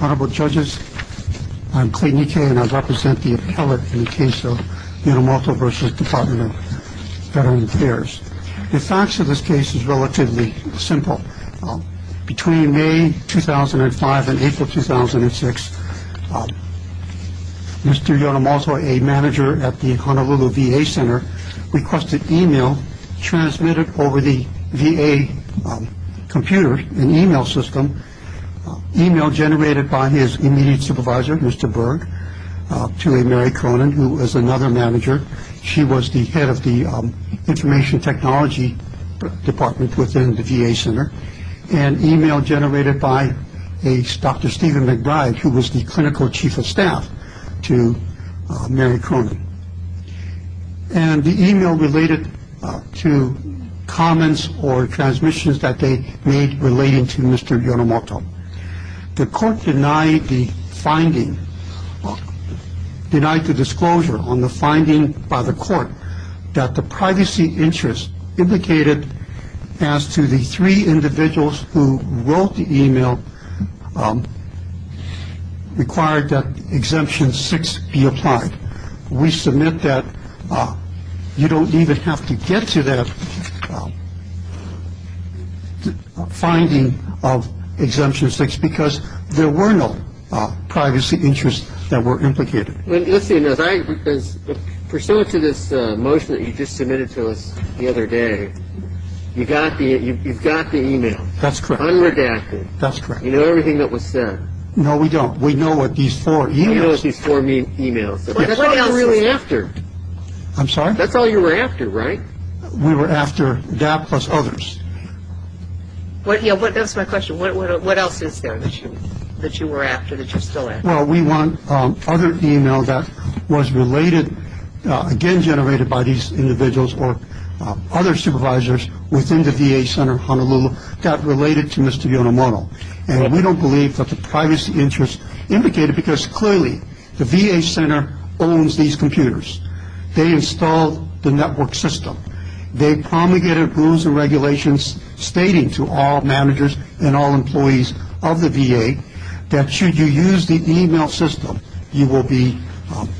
Honorable judges, I'm Clayton Ike and I represent the appellate in the case of Yonemoto v. Dept of Veterans Affairs. The facts of this case is relatively simple. Between May 2005 and April 2006, Mr. Yonemoto, a manager at the Honolulu VA Center, requested email transmitted over the VA computer, an email system. Email generated by his immediate supervisor, Mr. Berg, to Mary Cronin, who was another manager. She was the head of the information technology department within the VA Center. And email generated by Dr. Stephen McBride, who was the clinical chief of staff, to Mary Cronin. And the email related to comments or transmissions that they made relating to Mr. Yonemoto. The court denied the finding, denied the disclosure on the finding by the court that the privacy interest indicated as to the three individuals who wrote the email required that Exemption 6 be applied. We submit that you don't even have to get to that finding of Exemption 6 because there were no privacy interests that were implicated. Let's see. Because pursuant to this motion that you just submitted to us the other day, you've got the email. That's correct. Unredacted. That's correct. You know everything that was said. No, we don't. We know what these four emails. That's all we're really after. I'm sorry? That's all you were after, right? We were after that plus others. That's my question. What else is there that you were after that you're still after? Well, we want other email that was related, again generated by these individuals or other supervisors within the VA Center of Honolulu that related to Mr. Yonemoto. And we don't believe that the privacy interests implicated because clearly the VA Center owns these computers. They installed the network system. They promulgated rules and regulations stating to all managers and all employees of the VA that should you use the email system, you will be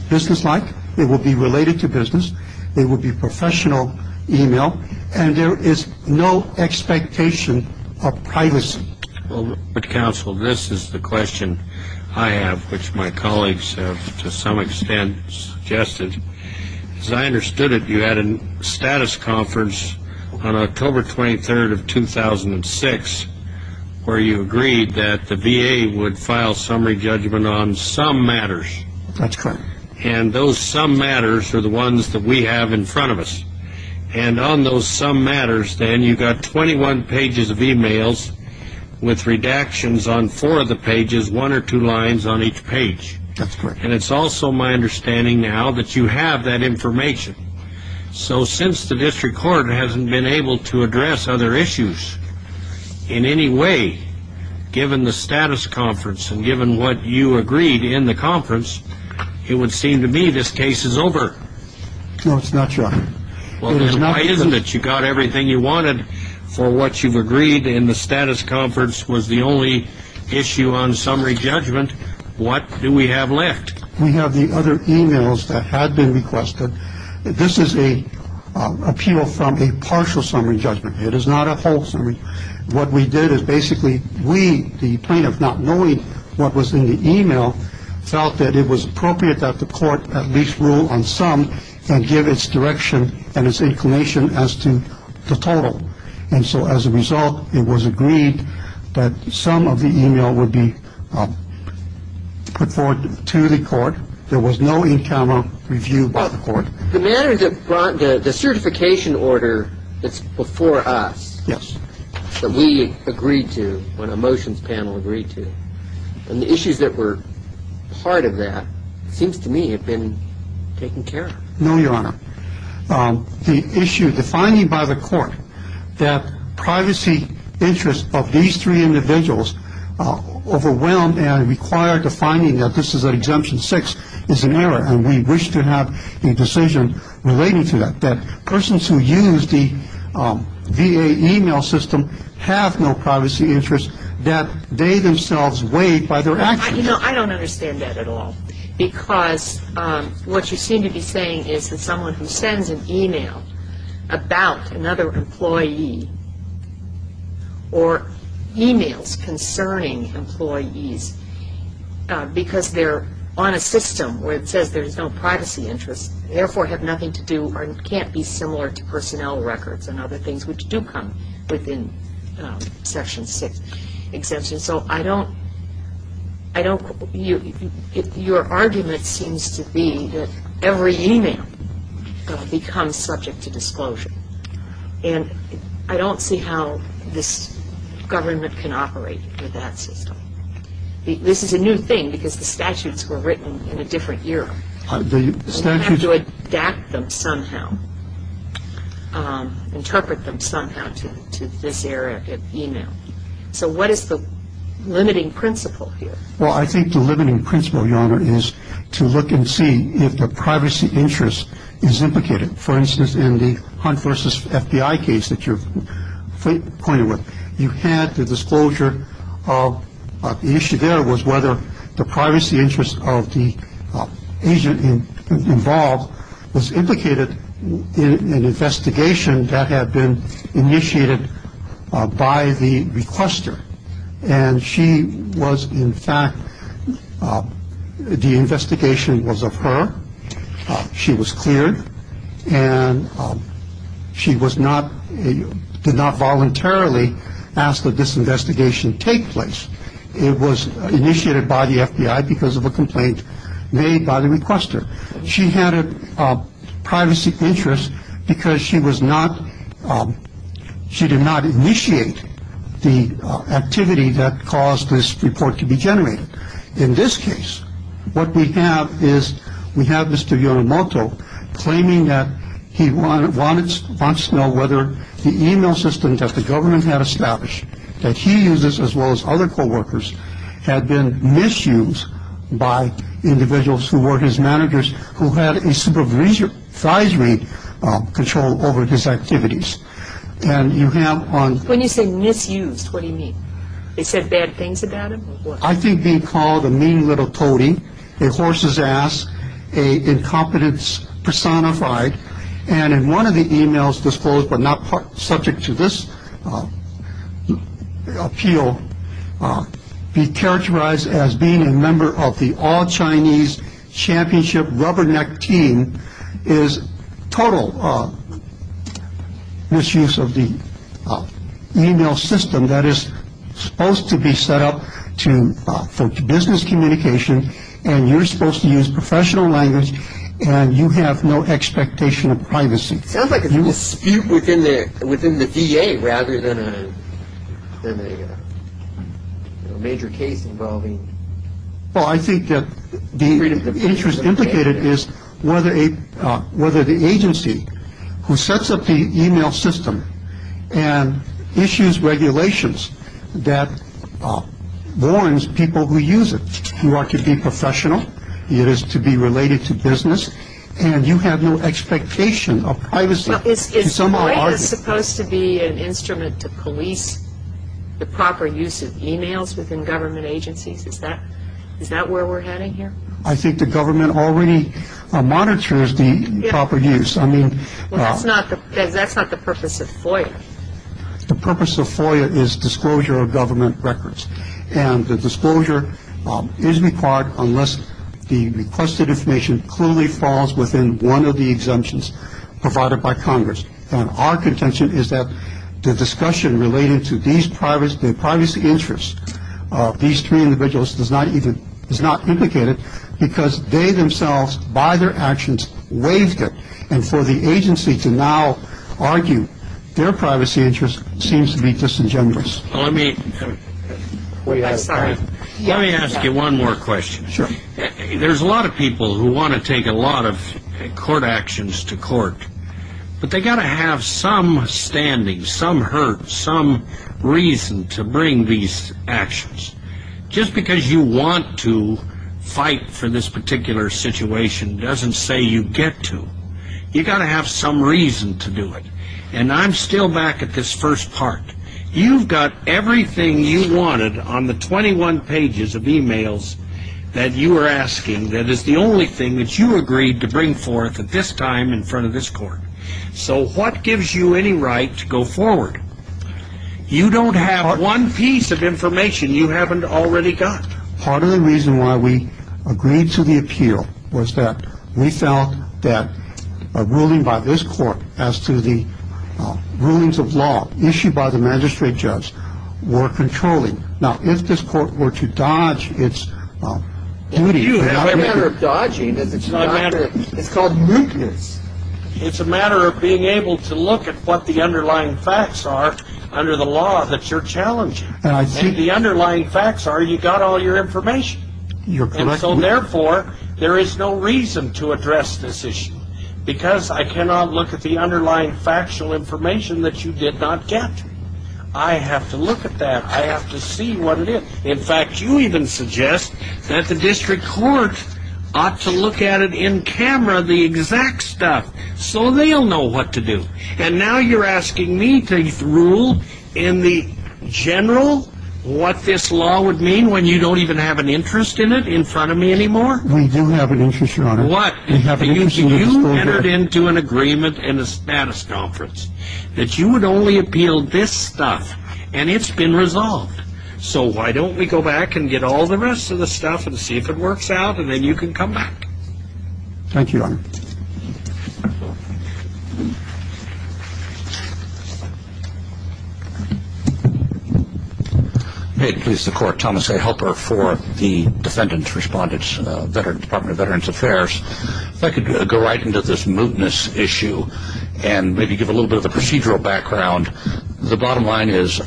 businesslike, it will be related to business, it will be professional email, and there is no expectation of privacy. Well, counsel, this is the question I have, which my colleagues have to some extent suggested. As I understood it, you had a status conference on October 23rd of 2006 where you agreed that the VA would file summary judgment on some matters. That's correct. And those some matters are the ones that we have in front of us. And on those some matters, then, you got 21 pages of emails with redactions on four of the pages, one or two lines on each page. That's correct. And it's also my understanding now that you have that information. So since the district court hasn't been able to address other issues in any way, given the status conference and given what you agreed in the conference, it would seem to me this case is over. No, it's not, John. Well, then why isn't it? You got everything you wanted for what you've agreed, and the status conference was the only issue on summary judgment. What do we have left? We have the other emails that had been requested. This is an appeal from a partial summary judgment. It is not a whole summary. It's a whole summary. It's a whole summary. And that's what we did. What we did is basically we, the plaintiff, not knowing what was in the email, felt that it was appropriate that the court at least rule on some and give its direction and its inclination as to the total. And so as a result, it was agreed that some of the email would be put forward to the court. There was no in-camera review by the court. The certification order that's before us that we agreed to when a motions panel agreed to, and the issues that were part of that seems to me have been taken care of. No, Your Honor. The issue, the finding by the court that privacy interests of these three individuals overwhelmed and required the finding that this is an Exemption 6 is an error, and we wish to have a decision related to that, that persons who use the VA email system have no privacy interests that they themselves weighed by their actions. I don't understand that at all. Because what you seem to be saying is that someone who sends an email about another employee or emails concerning employees because they're on a system where it says there's no privacy interest, therefore have nothing to do or can't be similar to personnel records and other things which do come within Section 6 exemption. So I don't, I don't, your argument seems to be that every email becomes subject to disclosure. And I don't see how this government can operate with that system. This is a new thing because the statutes were written in a different era. The statute. We have to adapt them somehow, interpret them somehow to this era of email. So what is the limiting principle here? Well, I think the limiting principle, Your Honor, is to look and see if the privacy interest is implicated. For instance, in the Hunt v. FBI case that you pointed with, you had the disclosure of the issue there was whether the privacy interest of the agent involved was implicated in an investigation that had been initiated by the requester. And she was, in fact, the investigation was of her. She was cleared. And she was not, did not voluntarily ask that this investigation take place. It was initiated by the FBI because of a complaint made by the requester. She had a privacy interest because she was not. She did not initiate the activity that caused this report to be generated. In this case, what we have is we have Mr. Yomoto claiming that he wants to know whether the email system that the government had established that he uses, as well as other coworkers, had been misused by individuals who were his managers, who had a supervisory control over his activities. And you have on- When you say misused, what do you mean? They said bad things about him or what? I think being called a mean little toady, a horse's ass, an incompetence personified, and in one of the emails disclosed but not subject to this appeal, be characterized as being a member of the all Chinese championship rubberneck team, is total misuse of the email system that is supposed to be set up to business communication. And you're supposed to use professional language and you have no expectation of privacy. Sounds like a dispute within the within the VA rather than a major case involving- Well, I think that the interest implicated is whether the agency who sets up the email system and issues regulations that warns people who use it. You are to be professional, it is to be related to business, and you have no expectation of privacy. Is private supposed to be an instrument to police the proper use of emails within government agencies? Is that where we're heading here? I think the government already monitors the proper use. I mean- Well, that's not the purpose of FOIA. The purpose of FOIA is disclosure of government records. And the disclosure is required unless the requested information clearly falls within one of the exemptions provided by Congress. And our contention is that the discussion relating to these privacy interests, these three individuals, is not implicated because they themselves, by their actions, waived it and for the agency to now argue their privacy interest seems to be disingenuous. Let me ask you one more question. Sure. There's a lot of people who want to take a lot of court actions to court, but they've got to have some standing, some hurt, some reason to bring these actions. Just because you want to fight for this particular situation doesn't say you get to. You've got to have some reason to do it. And I'm still back at this first part. You've got everything you wanted on the 21 pages of emails that you were asking that is the only thing that you agreed to bring forth at this time in front of this court. So what gives you any right to go forward? You don't have one piece of information you haven't already got. Part of the reason why we agreed to the appeal was that we felt that a ruling by this court as to the rulings of law issued by the magistrate judge were controlling. Now, if this court were to dodge its duty. It's not a matter of dodging. It's called mutinous. It's a matter of being able to look at what the underlying facts are under the law that you're challenging. And the underlying facts are you got all your information. And so, therefore, there is no reason to address this issue because I cannot look at the underlying factual information that you did not get. I have to look at that. I have to see what it is. In fact, you even suggest that the district court ought to look at it in camera, the exact stuff. So they'll know what to do. And now you're asking me to rule in the general what this law would mean when you don't even have an interest in it in front of me anymore? We do have an interest, Your Honor. What? You entered into an agreement in a status conference that you would only appeal this stuff. And it's been resolved. So why don't we go back and get all the rest of the stuff and see if it works out, and then you can come back? Thank you, Your Honor. May it please the Court, Thomas A. Helper for the Defendant's Respondents, Department of Veterans Affairs. If I could go right into this mutinous issue and maybe give a little bit of a procedural background. The bottom line is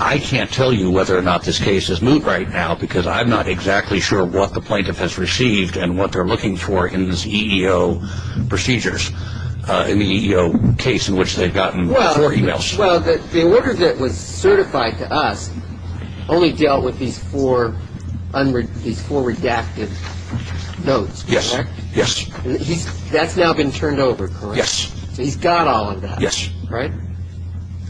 I can't tell you whether or not this case is moot right now because I'm not exactly sure what the plaintiff has received and what they're looking for in this EEO procedures, in the EEO case in which they've gotten four e-mails. Well, the order that was certified to us only dealt with these four redacted notes, correct? Yes, yes. That's now been turned over, correct? Yes. So he's got all of that. Yes. Right?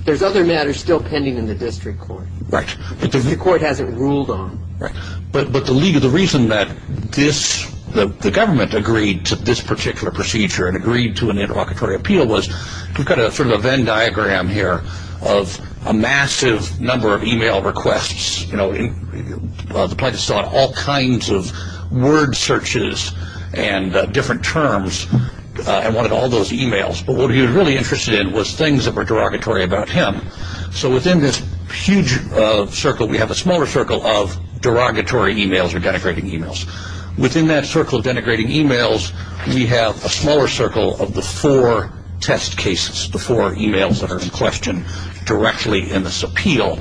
There's other matters still pending in the district court. Right. Which the court hasn't ruled on. Right. But the reason that the government agreed to this particular procedure and agreed to an interlocutory appeal was we've got sort of a Venn diagram here of a massive number of e-mail requests. The plaintiff saw all kinds of word searches and different terms and wanted all those e-mails. But what he was really interested in was things that were derogatory about him. So within this huge circle, we have a smaller circle of derogatory e-mails or denigrating e-mails. Within that circle of denigrating e-mails, we have a smaller circle of the four test cases, the four e-mails that are in question directly in this appeal.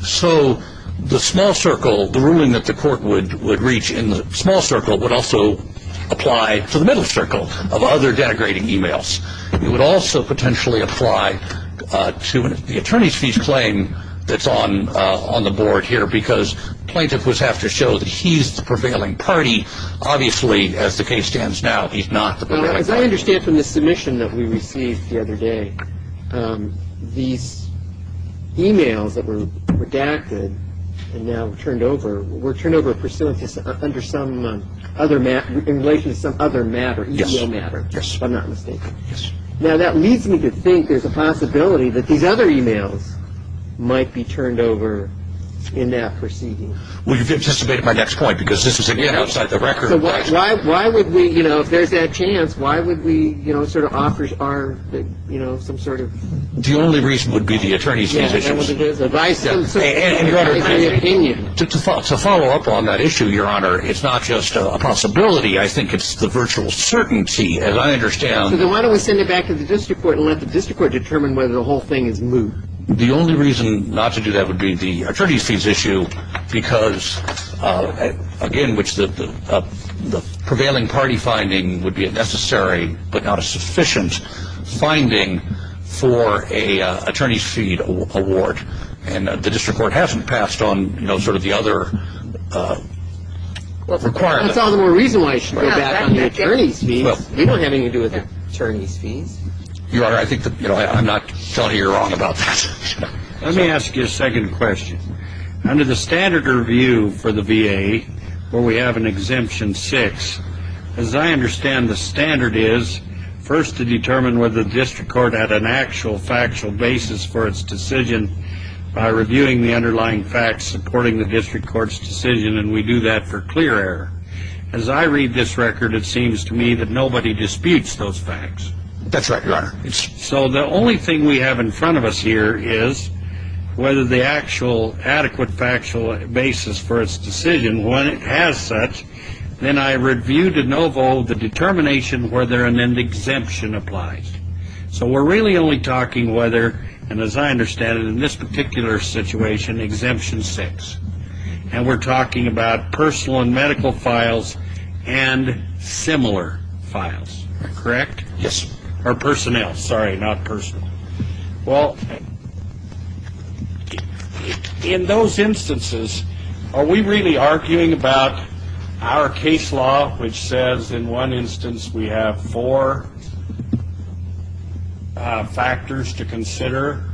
So the small circle, the ruling that the court would reach in the small circle, would also apply to the middle circle of other denigrating e-mails. It would also potentially apply to the attorney's fees claim that's on the board here because plaintiff would have to show that he's the prevailing party. Obviously, as the case stands now, he's not the prevailing party. As I understand from the submission that we received the other day, these e-mails that were redacted and now turned over were turned over pursuant to some other matter, in relation to some other matter, e-mail matter, if I'm not mistaken. Yes. Now that leads me to think there's a possibility that these other e-mails might be turned over in that proceeding. Well, you've anticipated my next point because this is, again, outside the record. So why would we, you know, if there's that chance, why would we, you know, sort of offer our, you know, some sort of... The only reason would be the attorney's fees issue. Yeah, that's what it is. Advice of some sort. To follow up on that issue, Your Honor, it's not just a possibility. I think it's the virtual certainty, as I understand... So then why don't we send it back to the district court and let the district court determine whether the whole thing is moot. The only reason not to do that would be the attorney's fees issue because, again, it's a case in which the prevailing party finding would be a necessary but not a sufficient finding for a attorney's fee award. And the district court hasn't passed on, you know, sort of the other requirement. That's all the more reason why it should go back on the attorney's fees. We don't have anything to do with attorney's fees. Your Honor, I think that, you know, I'm not telling you you're wrong about that. Let me ask you a second question. Under the standard review for the VA, where we have an exemption 6, as I understand the standard is first to determine whether the district court had an actual factual basis for its decision by reviewing the underlying facts supporting the district court's decision, and we do that for clear error. As I read this record, it seems to me that nobody disputes those facts. That's right, Your Honor. So the only thing we have in front of us here is whether the actual adequate factual basis for its decision, when it has such, then I review de novo the determination whether an exemption applies. So we're really only talking whether, and as I understand it in this particular situation, exemption 6. And we're talking about personal and medical files and similar files, correct? Yes. Or personnel, sorry, not personnel. Well, in those instances, are we really arguing about our case law, which says in one instance we have four factors to consider?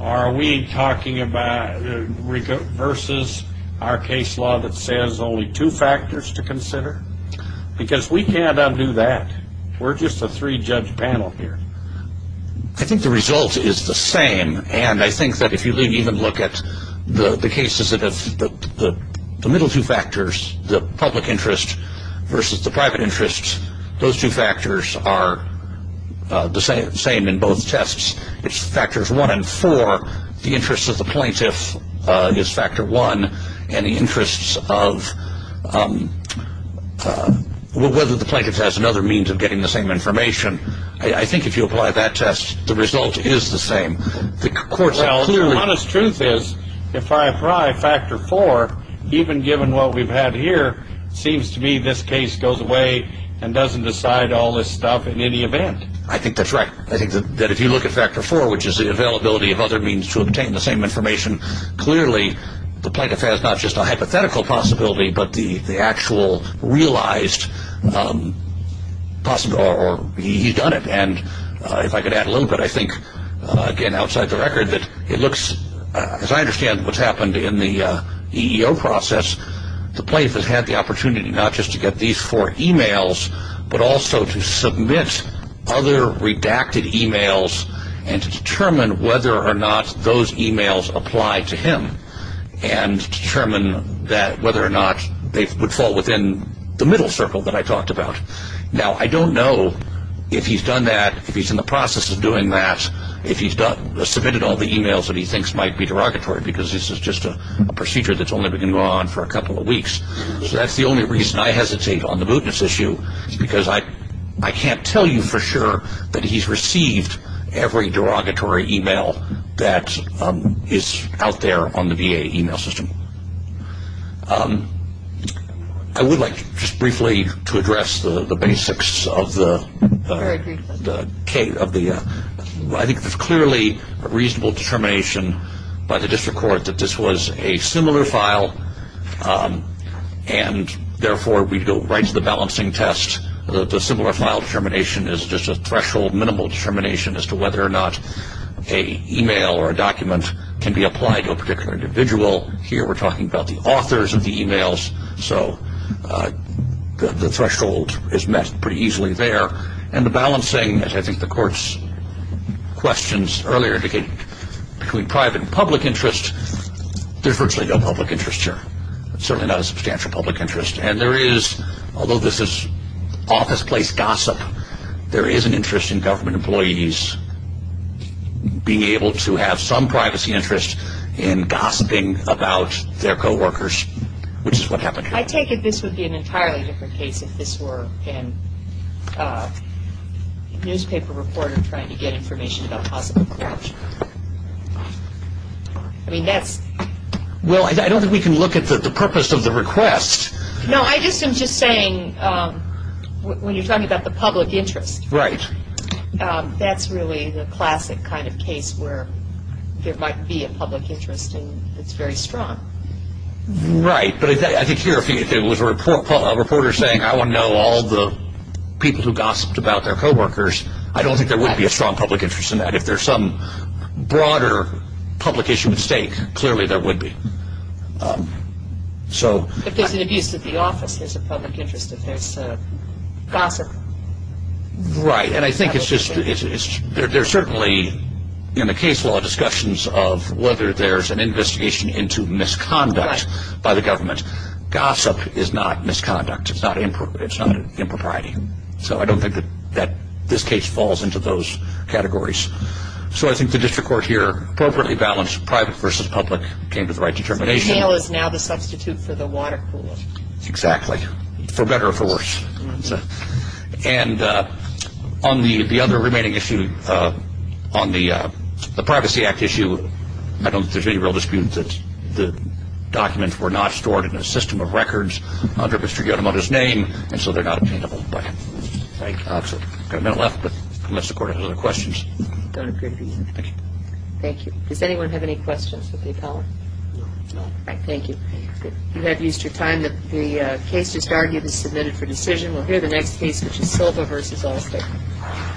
Are we talking about versus our case law that says only two factors to consider? Because we can't undo that. We're just a three-judge panel here. I think the result is the same, and I think that if you even look at the cases that have the middle two factors, the public interest versus the private interest, those two factors are the same in both tests. It's factors one and four. The interest of the plaintiff is factor one, and the interest of whether the plaintiff has another means of getting the same information. I think if you apply that test, the result is the same. The court's clear. Well, the honest truth is if I apply factor four, even given what we've had here, it seems to me this case goes away and doesn't decide all this stuff in any event. I think that's right. I think that if you look at factor four, which is the availability of other means to obtain the same information, clearly the plaintiff has not just a hypothetical possibility but the actual realized possibility, or he's done it. And if I could add a little bit, I think, again, outside the record, that it looks, as I understand what's happened in the EEO process, the plaintiff has had the opportunity not just to get these four e-mails, but also to submit other redacted e-mails and to determine whether or not those e-mails apply to him and determine whether or not they would fall within the middle circle that I talked about. Now, I don't know if he's done that, if he's in the process of doing that, if he's submitted all the e-mails that he thinks might be derogatory, because this is just a procedure that's only been going on for a couple of weeks. So that's the only reason I hesitate on the bootness issue, because I can't tell you for sure that he's received every derogatory e-mail that is out there on the VA e-mail system. I would like just briefly to address the basics of the case. I think there's clearly a reasonable determination by the district court that this was a similar file, and therefore we'd go right to the balancing test that the similar file determination is just a threshold, minimal determination as to whether or not an e-mail or a document can be applied to a particular individual. Here we're talking about the authors of the e-mails, so the threshold is met pretty easily there. And the balancing, as I think the court's questions earlier indicated, between private and public interest, there's virtually no public interest here, certainly not a substantial public interest. And there is, although this is office place gossip, there is an interest in government employees being able to have some privacy interest in gossiping about their co-workers, which is what happened here. I take it this would be an entirely different case if this were a newspaper reporter trying to get information about possible corruption. I mean, that's... Well, I don't think we can look at the purpose of the request. No, I'm just saying when you're talking about the public interest... Right. ...that's really the classic kind of case where there might be a public interest and it's very strong. Right, but I think here if it was a reporter saying I want to know all the people who gossiped about their co-workers, I don't think there would be a strong public interest in that. If there's some broader public issue at stake, clearly there would be. If there's an abuse at the office, there's a public interest if there's gossip. Right, and I think it's just... There's certainly in the case law discussions of whether there's an investigation into misconduct by the government. Gossip is not misconduct. It's not impropriety. So I don't think that this case falls into those categories. So I think the district court here appropriately balanced private versus public, came to the right determination. So the mail is now the substitute for the water cooler. Exactly. For better or for worse. And on the other remaining issue, on the Privacy Act issue, I don't think there's any real dispute that the documents were not stored in a system of records under Mr. Yonemoto's name, and so they're not obtainable. I've got a minute left, but unless the court has other questions. I don't appear to be. Thank you. Thank you. Does anyone have any questions that they'd like? No. All right, thank you. You have used your time. The case just argued is submitted for decision. We'll hear the next case, which is Silva v. Allstate.